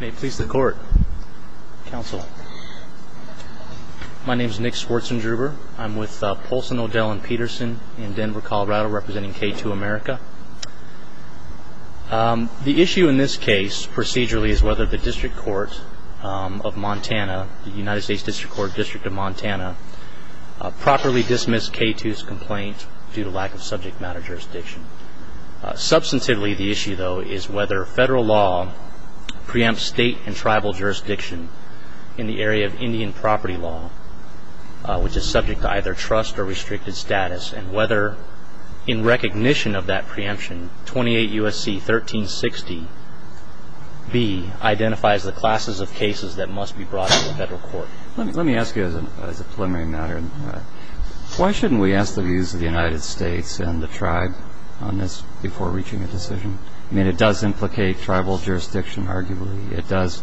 May it please the Court, Counsel. My name is Nick Schwartzendruber. I'm with Poulsen, O'Dell & Peterson in Denver, Colorado, representing K2 America. The issue in this case, procedurally, is whether the District Court of Montana, the United States District Court, District of Montana, properly dismissed K2's complaint due to lack of subject matter jurisdiction. Substantively, the issue, though, is whether federal law preempts state and tribal jurisdiction in the area of Indian property law, which is subject to either trust or restricted status, and whether, in recognition of that preemption, 28 U.S.C. 1360b identifies the classes of cases that must be brought to the federal court. Let me ask you, as a preliminary matter, why shouldn't we ask the views of the United States and the tribe on this before reaching a decision? I mean, it does implicate tribal jurisdiction, arguably. It does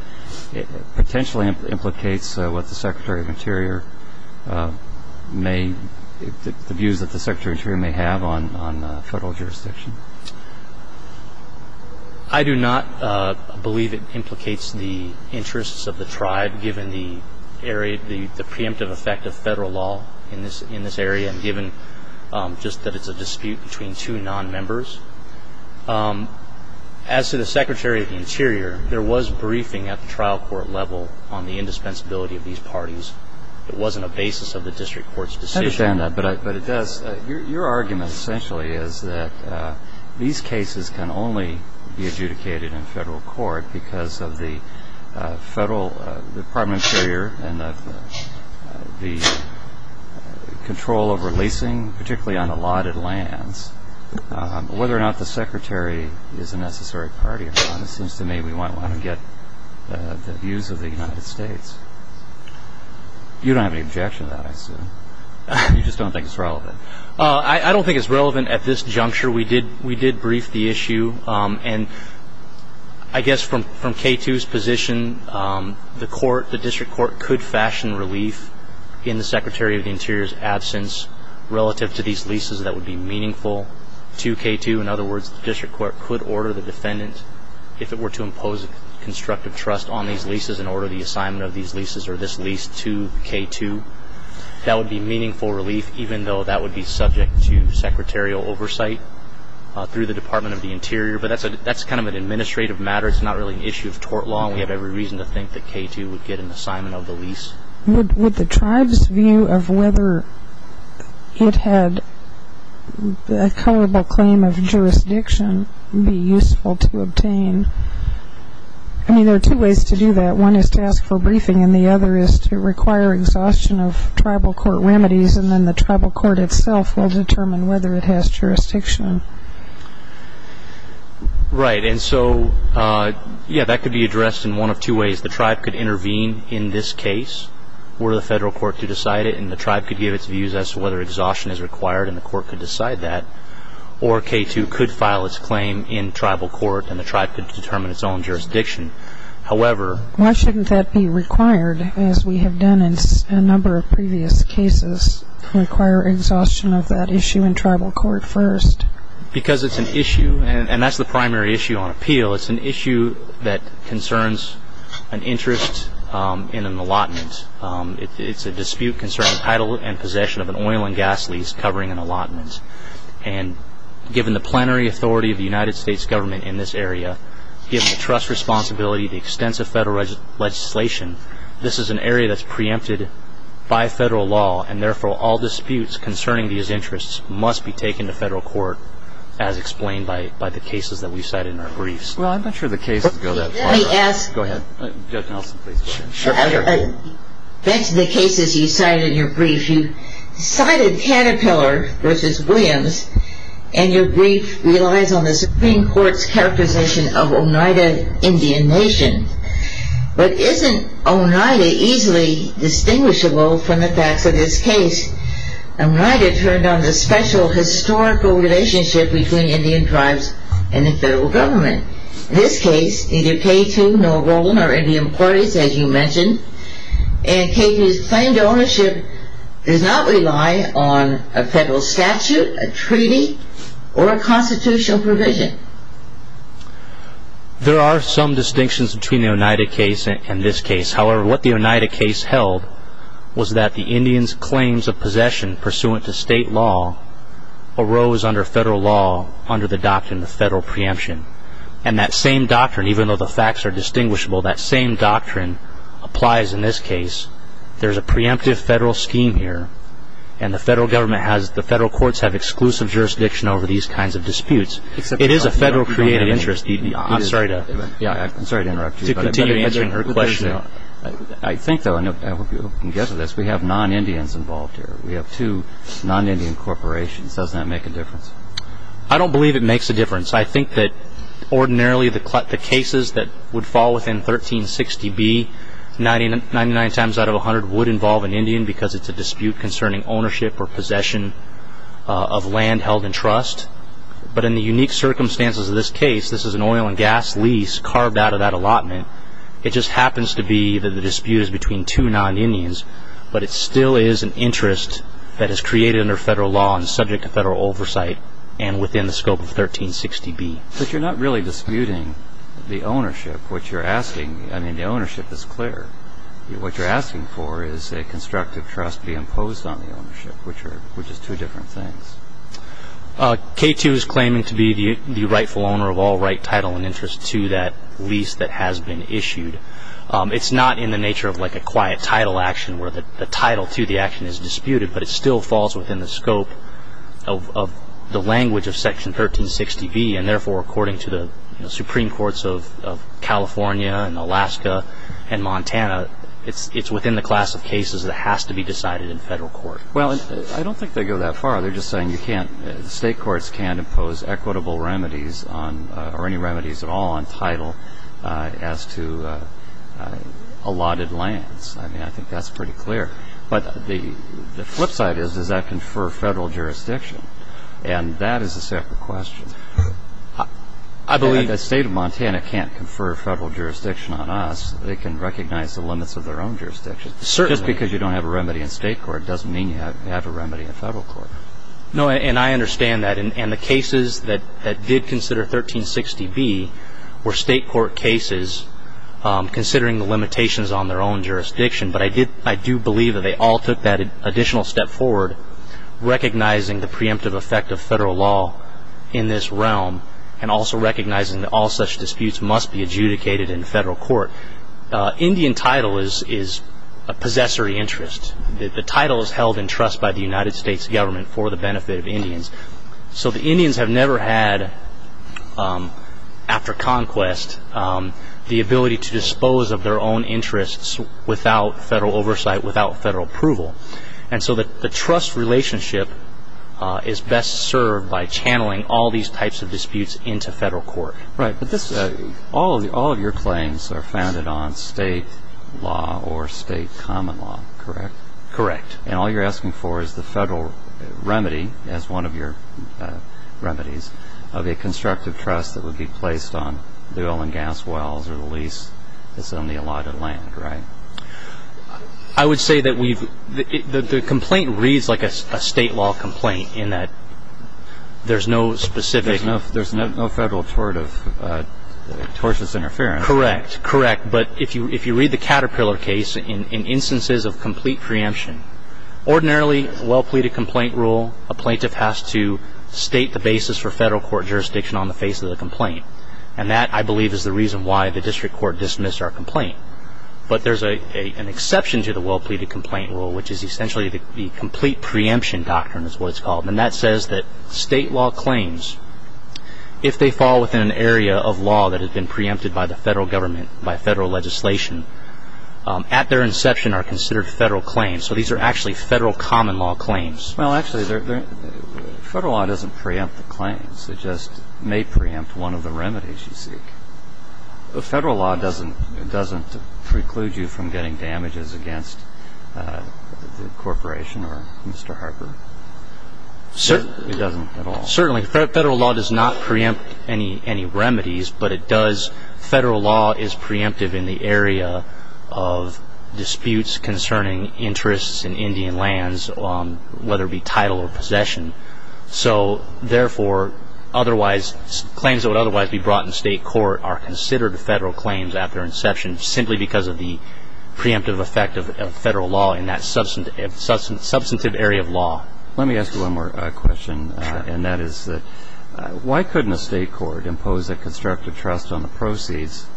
potentially implicate what the Secretary of Interior may, the views that the Secretary of Interior may have on federal jurisdiction. I do not believe it implicates the interests of the tribe, given the area, the preemptive effect of federal law in this area, and given just that it's a dispute between two non-members. As to the Secretary of the Interior, there was briefing at the trial court level on the indispensability of these parties. It wasn't a basis of the district court's decision. I understand that, but it does. Your argument, essentially, is that these cases can only be adjudicated in federal court because of the Department of Interior and the control over leasing, particularly on allotted lands. Whether or not the Secretary is a necessary party, it seems to me, we might want to get the views of the United States. You don't have any objection to that, I assume. You just don't think it's relevant. I don't think it's relevant at this juncture. We did brief the issue. I guess from K2's position, the district court could fashion relief in the Secretary of the Interior's absence relative to these leases that would be meaningful to K2. In other words, the district court could order the defendant, if it were to impose constructive trust on these leases and order the assignment of these leases or this lease to K2. That would be meaningful relief, even though that would be subject to secretarial oversight through the Department of the Interior. But that's kind of an administrative matter. It's not really an issue of tort law, and we have every reason to think that K2 would get an assignment of the lease. Would the tribe's view of whether it had a coverable claim of jurisdiction be useful to obtain? I mean, there are two ways to do that. One is to ask for a briefing, and the other is to require exhaustion of tribal court remedies, and then the tribal court itself will determine whether it has jurisdiction. Right. And so, yeah, that could be addressed in one of two ways. The tribe could intervene in this case were the federal court to decide it, and the tribe could give its views as to whether exhaustion is required, and the court could decide that. Or K2 could file its claim in tribal court, and the tribe could determine its own jurisdiction. Why shouldn't that be required, as we have done in a number of previous cases, to require exhaustion of that issue in tribal court first? Because it's an issue, and that's the primary issue on appeal. It's an issue that concerns an interest in an allotment. It's a dispute concerning title and possession of an oil and gas lease covering an allotment. And given the plenary authority of the United States government in this area, given the trust responsibility, the extensive federal legislation, this is an area that's preempted by federal law, and therefore all disputes concerning these interests must be taken to federal court, as explained by the cases that we've cited in our briefs. Well, I'm not sure the cases go that far. Let me ask. Go ahead. Judge Nelson, please. That's the cases you cite in your brief. You cited Caterpillar v. Williams, and your brief relies on the Supreme Court's characterization of Oneida Indian Nation. But isn't Oneida easily distinguishable from the facts of this case? Oneida turned on the special historical relationship between Indian tribes and the federal government. In this case, neither K2 nor Rowland are Indian parties, as you mentioned, and K2's claimed ownership does not rely on a federal statute, a treaty, or a constitutional provision. There are some distinctions between the Oneida case and this case. However, what the Oneida case held was that the Indians' claims of possession pursuant to state law arose under federal law under the doctrine of federal preemption. And that same doctrine, even though the facts are distinguishable, that same doctrine applies in this case. There's a preemptive federal scheme here, and the federal courts have exclusive jurisdiction over these kinds of disputes. It is a federal creative interest. I'm sorry to interrupt you, but I better answer her question. I think, though, and I hope you can guess this, we have non-Indians involved here. We have two non-Indian corporations. I don't believe it makes a difference. I think that ordinarily the cases that would fall within 1360b 99 times out of 100 would involve an Indian because it's a dispute concerning ownership or possession of land held in trust. But in the unique circumstances of this case, this is an oil and gas lease carved out of that allotment. It just happens to be that the dispute is between two non-Indians, but it still is an interest that is created under federal law and subject to federal oversight and within the scope of 1360b. But you're not really disputing the ownership, which you're asking. I mean, the ownership is clear. What you're asking for is a constructive trust be imposed on the ownership, which is two different things. K2 is claiming to be the rightful owner of all right, title, and interest to that lease that has been issued. It's not in the nature of like a quiet title action where the title to the action is disputed, but it still falls within the scope of the language of Section 1360b, and therefore according to the Supreme Courts of California and Alaska and Montana, it's within the class of cases that has to be decided in federal court. Well, I don't think they go that far. They're just saying the state courts can't impose equitable remedies or any remedies at all on title as to allotted lands. I mean, I think that's pretty clear. But the flip side is, does that confer federal jurisdiction? And that is a separate question. If the state of Montana can't confer federal jurisdiction on us, they can recognize the limits of their own jurisdiction. Just because you don't have a remedy in state court doesn't mean you have a remedy in federal court. No, and I understand that. And the cases that did consider 1360b were state court cases considering the limitations on their own jurisdiction. But I do believe that they all took that additional step forward, recognizing the preemptive effect of federal law in this realm and also recognizing that all such disputes must be adjudicated in federal court. Indian title is a possessory interest. The title is held in trust by the United States government for the benefit of Indians. So the Indians have never had, after conquest, the ability to dispose of their own interests without federal oversight, without federal approval. And so the trust relationship is best served by channeling all these types of disputes into federal court. Right, but all of your claims are founded on state law or state common law, correct? Correct. And all you're asking for is the federal remedy, as one of your remedies, of a constructive trust that would be placed on the oil and gas wells or the lease that's on the allotted land, right? I would say that the complaint reads like a state law complaint in that there's no specific... There's no federal tort of tortious interference. Correct, correct. But if you read the Caterpillar case, in instances of complete preemption, ordinarily, a well-pleaded complaint rule, a plaintiff has to state the basis for federal court jurisdiction on the face of the complaint. And that, I believe, is the reason why the district court dismissed our complaint. But there's an exception to the well-pleaded complaint rule, which is essentially the complete preemption doctrine is what it's called. And that says that state law claims, if they fall within an area of law that has been preempted by the federal government, by federal legislation, at their inception are considered federal claims. So these are actually federal common law claims. Well, actually, federal law doesn't preempt the claims. It just may preempt one of the remedies you seek. Federal law doesn't preclude you from getting damages against the corporation or Mr. Harper? Certainly. It doesn't at all? Certainly. Federal law does not preempt any remedies, but it does federal law is preemptive in the area of disputes concerning interests in Indian lands, whether it be title or possession. So, therefore, claims that would otherwise be brought in state court are considered federal claims after inception, simply because of the preemptive effect of federal law in that substantive area of law. Let me ask you one more question, and that is why couldn't a state court impose a constructive trust on the proceeds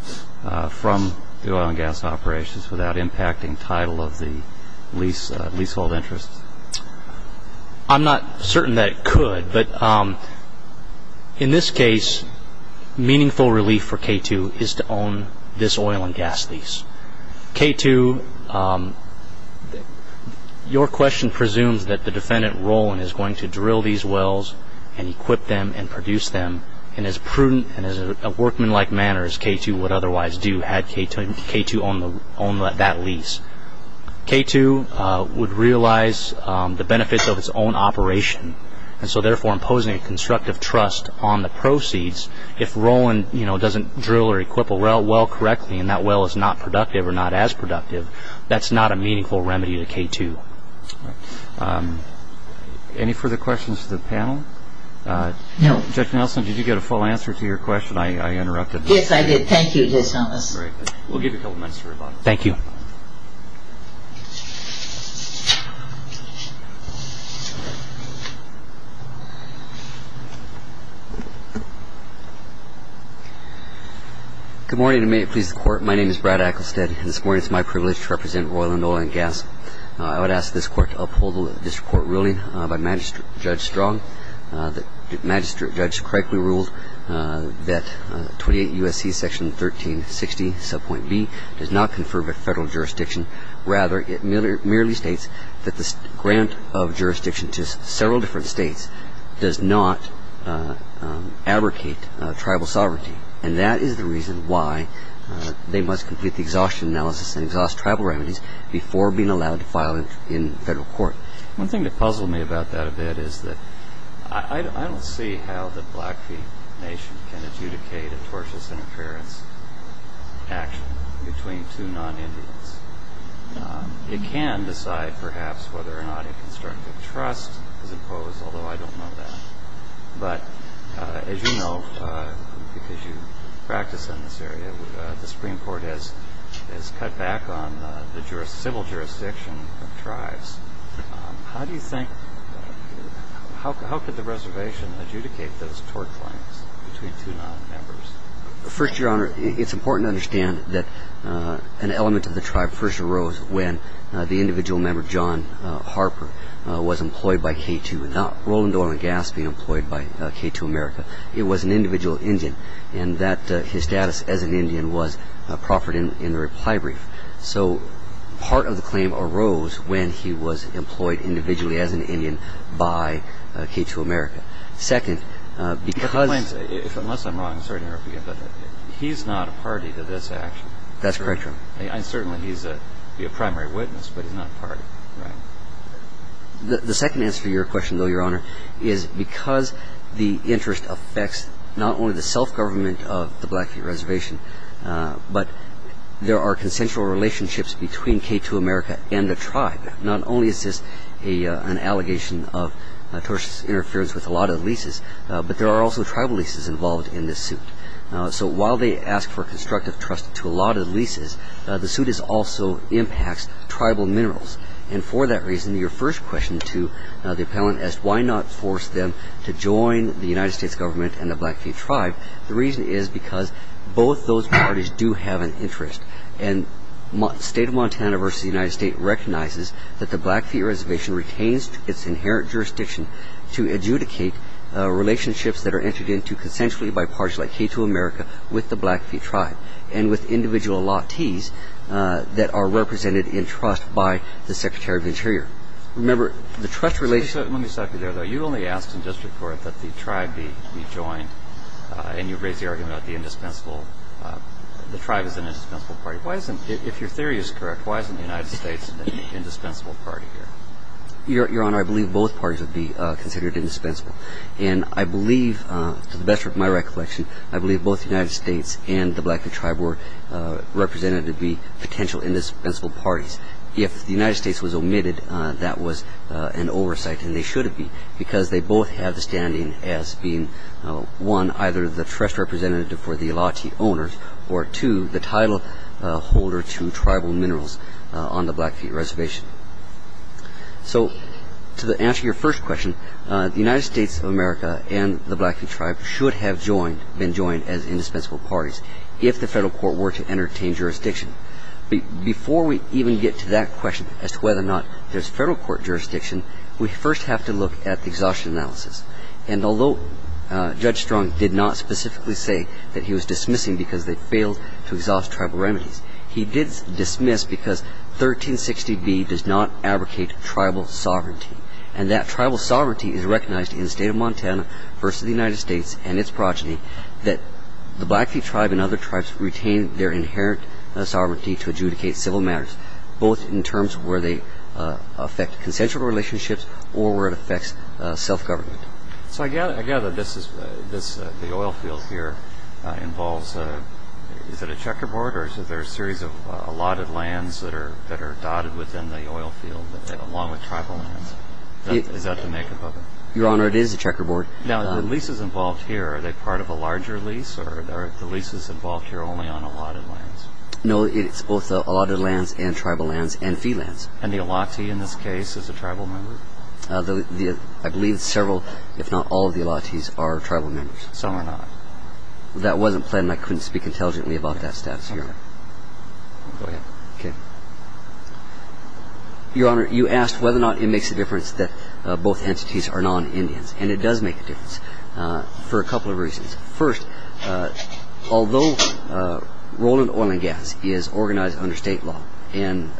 from the oil and gas operations without impacting title of the leasehold interests? I'm not certain that it could, but in this case, meaningful relief for K2 is to own this oil and gas lease. K2, your question presumes that the defendant, Roland, is going to drill these wells and equip them and produce them in as prudent and as a workmanlike manner as K2 would otherwise do, had K2 owned that lease. K2 would realize the benefits of its own operation, and so, therefore, imposing a constructive trust on the proceeds, if Roland doesn't drill or equip a well correctly and that well is not productive or not as productive, that's not a meaningful remedy to K2. Any further questions to the panel? No. Judge Nelson, did you get a full answer to your question? I interrupted. Yes, I did. Thank you, Judge Thomas. We'll give you a couple minutes to rebuttal. Thank you. Good morning, and may it please the Court. My name is Brad Ecclestead, and this morning it's my privilege to represent Roland, Oil & Gas. I would ask this Court to uphold the district court ruling by Magistrate Judge Strong, that Magistrate Judge correctly ruled that 28 U.S.C. Section 1360, Subpoint B, does not confer with Federal jurisdiction. Rather, it merely states that the grant of jurisdiction to several different states does not abrogate tribal sovereignty, and that is the reason why they must complete the exhaustion analysis and exhaust tribal remedies before being allowed to file in Federal court. One thing that puzzled me about that a bit is that I don't see how the Blackfeet Nation can adjudicate a tortious interference action between two non-Indians. It can decide, perhaps, whether or not a constructive trust is imposed, although I don't know that. But as you know, because you practice in this area, the Supreme Court has cut back on the civil jurisdiction of tribes. How do you think, how could the reservation adjudicate those tort claims between two non-members? First, Your Honor, it's important to understand that an element of the tribe first arose when the individual member, John Harper, was employed by K-2, and not Roland Orland Gass being employed by K-2 America. It was an individual Indian, and that his status as an Indian was proffered in the reply brief. So part of the claim arose when he was employed individually as an Indian by K-2 America. Second, because of the claims, unless I'm wrong, sorry to interrupt you again, but he's not a party to this action. That's correct, Your Honor. Certainly he's a primary witness, but he's not a party. Right. The second answer to your question, though, Your Honor, is because the interest affects not only the self-government of the Blackfeet Reservation, but there are consensual relationships between K-2 America and the tribe. Not only is this an allegation of tortious interference with a lot of leases, but there are also tribal leases involved in this suit. So while they ask for constructive trust to a lot of leases, the suit also impacts tribal minerals. And for that reason, your first question to the appellant as to why not force them to join the United States government and the Blackfeet tribe, the reason is because both those parties do have an interest. And State of Montana versus the United States recognizes that the Blackfeet Reservation retains its inherent jurisdiction to adjudicate relationships that are entered into consensually by parties like K-2 America with the Blackfeet tribe and with individual latis that are represented in trust by the Secretary of the Interior. Remember, the trust relationship ---- Let me stop you there, though. You only asked in district court that the tribe be joined, and you raised the argument about the indispensable. The tribe is an indispensable party. If your theory is correct, why isn't the United States an indispensable party here? Your Honor, I believe both parties would be considered indispensable. And I believe, to the best of my recollection, I believe both the United States and the Blackfeet tribe were represented to be potential indispensable parties. If the United States was omitted, that was an oversight, and they shouldn't be, because they both have the standing as being, one, either the trust representative for the lati owners, or two, the title holder to tribal minerals on the Blackfeet Reservation. So, to answer your first question, the United States of America and the Blackfeet tribe should have been joined as indispensable parties if the federal court were to entertain jurisdiction. Before we even get to that question as to whether or not there's federal court jurisdiction, we first have to look at the exhaustion analysis. And although Judge Strong did not specifically say that he was dismissing because they failed to exhaust tribal remedies, he did dismiss because 1360b does not abrogate tribal sovereignty. And that tribal sovereignty is recognized in the state of Montana versus the United States and its progeny that the Blackfeet tribe and other tribes retain their inherent sovereignty to adjudicate civil matters, both in terms of where they affect consensual relationships or where it affects self-government. So, I gather the oil field here involves, is it a checkerboard or is it a series of allotted lands that are dotted within the oil field along with tribal lands? Is that the makeup of it? Your Honor, it is a checkerboard. Now, the leases involved here, are they part of a larger lease or are the leases involved here only on allotted lands? No, it's both allotted lands and tribal lands and fee lands. And the lati in this case is a tribal member? I believe several, if not all of the latis are tribal members. Some are not. That wasn't planned and I couldn't speak intelligently about that status, Your Honor. Go ahead. Your Honor, you asked whether or not it makes a difference that both entities are non-Indians and it does make a difference for a couple of reasons. First, although Roland Oil and Gas is organized under state law and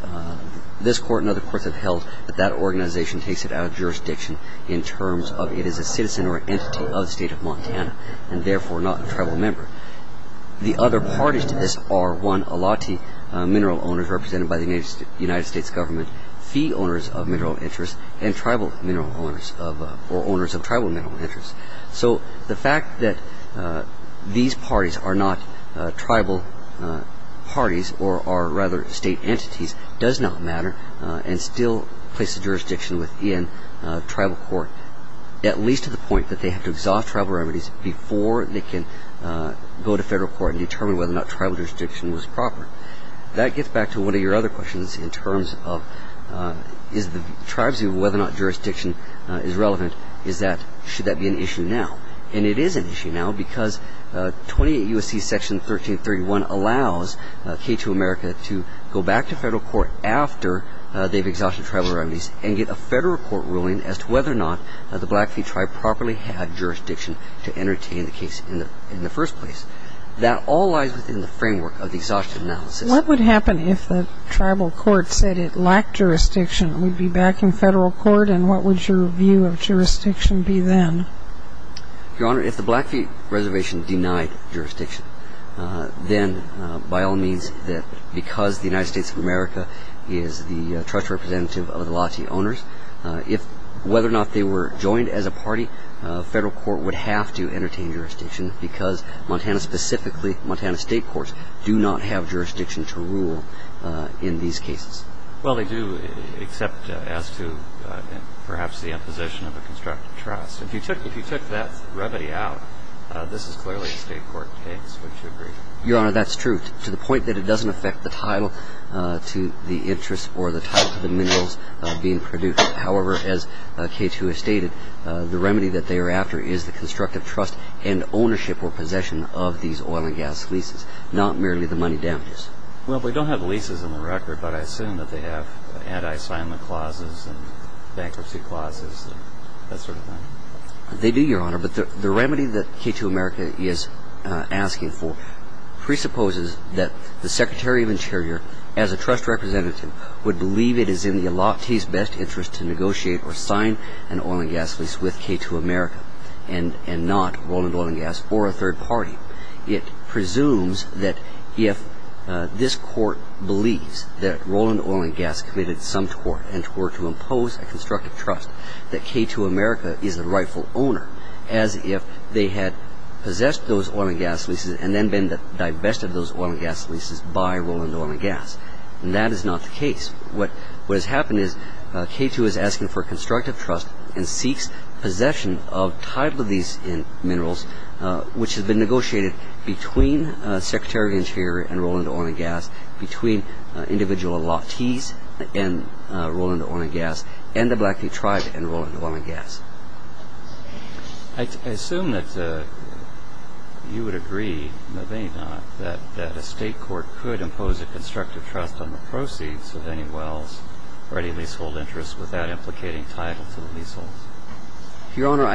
this court and other courts have held that that organization takes it out of jurisdiction in terms of it is a citizen or an entity of the state of Montana and therefore not a tribal member. The other parties to this are, one, alati mineral owners represented by the United States government, fee owners of mineral interests and tribal mineral owners or owners of tribal mineral interests. So the fact that these parties are not tribal parties or are rather state entities does not matter and still places jurisdiction within tribal court at least to the point that they have to exhaust tribal remedies before they can go to federal court and determine whether or not tribal jurisdiction was proper. That gets back to one of your other questions in terms of is the tribes view and whether or not jurisdiction is relevant is that should that be an issue now. And it is an issue now because 28 U.S.C. Section 1331 allows K-2 America to go back to federal court after they've exhausted tribal remedies and get a federal court ruling as to whether or not the Blackfeet tribe properly had jurisdiction to entertain the case in the first place. That all lies within the framework of the exhaustion analysis. What would happen if the tribal court said it lacked jurisdiction? Would it be back in federal court and what would your view of jurisdiction be then? Your Honor, if the Blackfeet reservation denied jurisdiction, then by all means because the United States of America is the trust representative of alati owners, whether or not they were joined as a party, federal court would have to entertain jurisdiction because Montana, specifically Montana state courts, do not have jurisdiction to rule in these cases. Well, they do except as to perhaps the imposition of a constructive trust. If you took that remedy out, this is clearly a state court case, wouldn't you agree? Your Honor, that's true to the point that it doesn't affect the title to the interest or the title to the minerals being produced. However, as K2 has stated, the remedy that they are after is the constructive trust and ownership or possession of these oil and gas leases, not merely the money damages. Well, we don't have leases in the record, but I assume that they have anti-assignment clauses and bankruptcy clauses and that sort of thing. They do, Your Honor, but the remedy that K2 America is asking for presupposes that the Secretary of Interior, as a trust representative, would believe it is in the alati's best interest to negotiate or sign an oil and gas lease with K2 America and not Roland Oil and Gas or a third party. It presumes that if this court believes that Roland Oil and Gas committed some tort and tort to impose a constructive trust that K2 America is the rightful owner, as if they had possessed those oil and gas leases and then been divested of those oil and gas leases by Roland Oil and Gas. And that is not the case. What has happened is K2 is asking for constructive trust and seeks possession of title of these minerals, which has been negotiated between Secretary of Interior and Roland Oil and Gas, between individual alati's and Roland Oil and Gas, and the Blackfeet tribe and Roland Oil and Gas. I assume that you would agree, maybe not, that a state court could impose a constructive trust on the proceeds of any wells or any leasehold interests without implicating title to the leaseholds. Your Honor,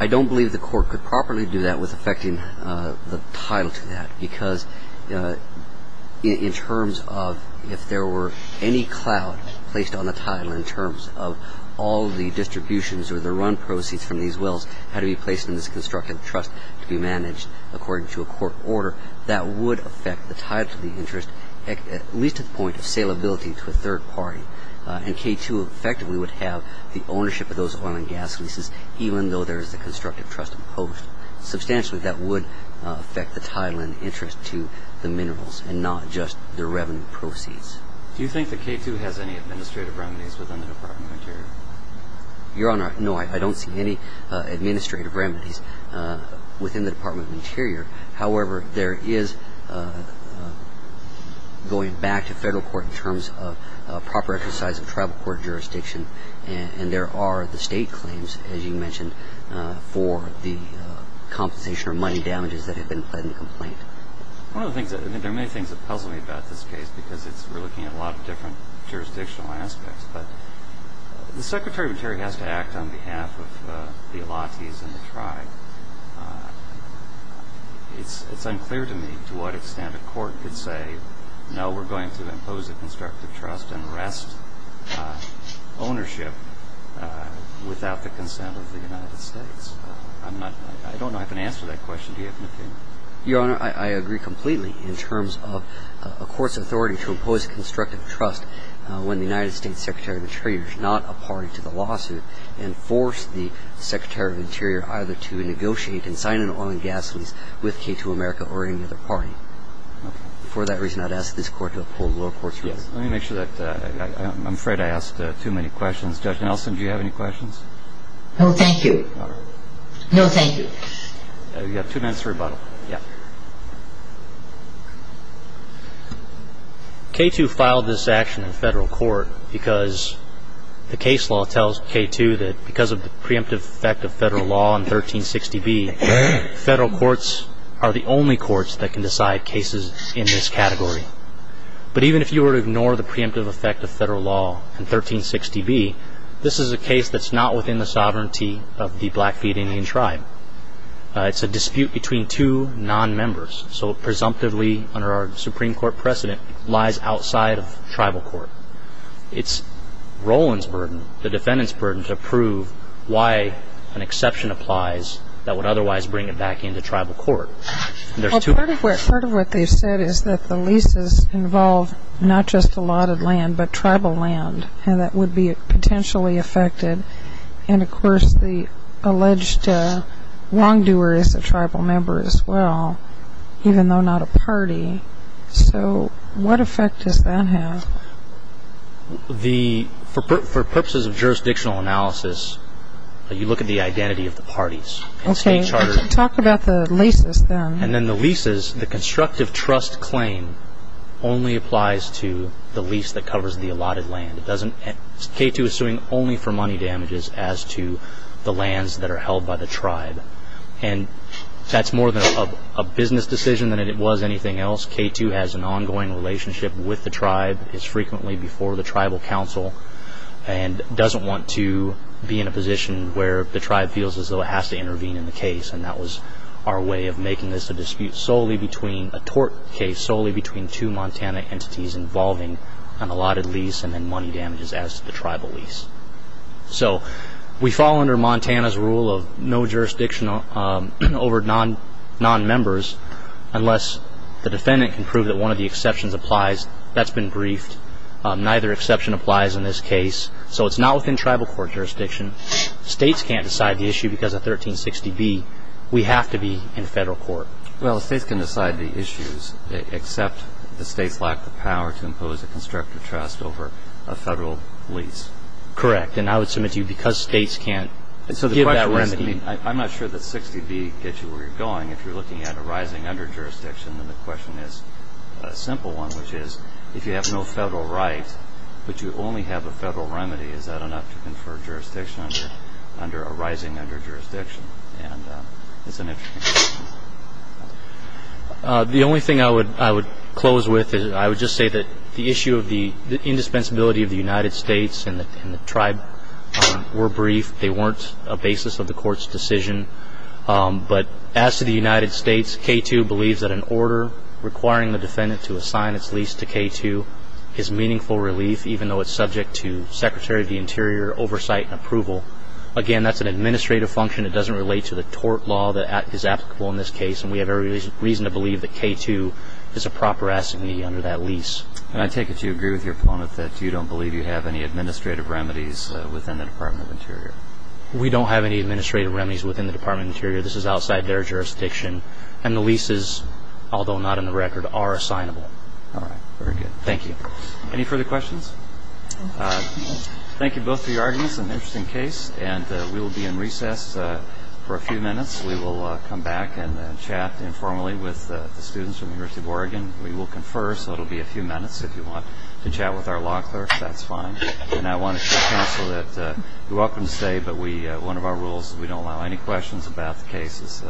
I don't believe the court could properly do that with affecting the title to that, because in terms of if there were any cloud placed on the title in terms of all the distributions or the run proceeds from these wells had to be placed in this constructive trust to be managed, according to a court order, that would affect the title to the interest, at least to the point of saleability to a third party. And K2 effectively would have the ownership of those oil and gas leases, even though there is a constructive trust imposed. Substantially, that would affect the title and interest to the minerals and not just the revenue proceeds. Do you think that K2 has any administrative remedies within the Department of Interior? Your Honor, no, I don't see any administrative remedies within the Department of Interior. However, there is, going back to federal court in terms of proper exercise of tribal court jurisdiction, and there are the state claims, as you mentioned, for the compensation or money damages that have been pledged in the complaint. One of the things, I mean, there are many things that puzzle me about this case, because we're looking at a lot of different jurisdictional aspects. But the Secretary of the Interior has to act on behalf of the Illatis and the tribe. It's unclear to me to what extent a court could say, no, we're going to impose a constructive trust and wrest ownership without the consent of the United States. I don't know if an answer to that question. Do you have an opinion? Your Honor, I agree completely in terms of a court's authority to impose a constructive trust when the United States Secretary of the Interior is not a party to the lawsuit and force the Secretary of the Interior either to negotiate and sign an oil and gas lease with K2 America or any other party. Okay. For that reason, I'd ask this Court to uphold the lower court's ruling. Yes. Let me make sure that ‑‑ I'm afraid I asked too many questions. Judge Nelson, do you have any questions? No, thank you. All right. No, thank you. You have two minutes for rebuttal. Yeah. Okay. K2 filed this action in federal court because the case law tells K2 that because of the preemptive effect of federal law in 1360B, federal courts are the only courts that can decide cases in this category. But even if you were to ignore the preemptive effect of federal law in 1360B, this is a case that's not within the sovereignty of the Blackfeet Indian tribe. It's a dispute between two nonmembers. So presumptively, under our Supreme Court precedent, lies outside of tribal court. It's Roland's burden, the defendant's burden, to prove why an exception applies that would otherwise bring it back into tribal court. Part of what they've said is that the leases involve not just allotted land but tribal land, and that would be potentially affected. And, of course, the alleged wrongdoer is a tribal member as well, even though not a party. So what effect does that have? For purposes of jurisdictional analysis, you look at the identity of the parties. Okay. Talk about the leases then. And then the leases, the constructive trust claim only applies to the lease that covers the allotted land. K2 is suing only for money damages as to the lands that are held by the tribe. And that's more of a business decision than it was anything else. K2 has an ongoing relationship with the tribe, is frequently before the tribal council, and doesn't want to be in a position where the tribe feels as though it has to intervene in the case. And that was our way of making this a dispute solely between a tort case, and solely between two Montana entities involving an allotted lease and then money damages as to the tribal lease. So we fall under Montana's rule of no jurisdiction over non-members unless the defendant can prove that one of the exceptions applies. That's been briefed. Neither exception applies in this case. So it's not within tribal court jurisdiction. States can't decide the issue because of 1360B. We have to be in federal court. Well, states can decide the issues except the states lack the power to impose a constructive trust over a federal lease. Correct. And I would submit to you because states can't give that remedy. I'm not sure that 16B gets you where you're going. If you're looking at a rising under-jurisdiction, then the question is a simple one, which is if you have no federal rights but you only have a federal remedy, is that enough to confer jurisdiction under a rising under-jurisdiction? It's an interesting question. The only thing I would close with is I would just say that the issue of the indispensability of the United States and the tribe were briefed. They weren't a basis of the court's decision. But as to the United States, K2 believes that an order requiring the defendant to assign its lease to K2 is meaningful relief, even though it's subject to Secretary of the Interior oversight and approval. Again, that's an administrative function. It doesn't relate to the tort law that is applicable in this case, and we have every reason to believe that K2 is a proper assignee under that lease. And I take it you agree with your opponent that you don't believe you have any administrative remedies within the Department of Interior? We don't have any administrative remedies within the Department of Interior. This is outside their jurisdiction. And the leases, although not in the record, are assignable. All right, very good. Thank you. Any further questions? Thank you both for your arguments. This is an interesting case, and we will be in recess for a few minutes. We will come back and chat informally with the students from the University of Oregon. We will confer, so it will be a few minutes. If you want to chat with our law clerk, that's fine. And I want to say, counsel, that you're welcome to stay, but one of our rules is we don't allow any questions about the case.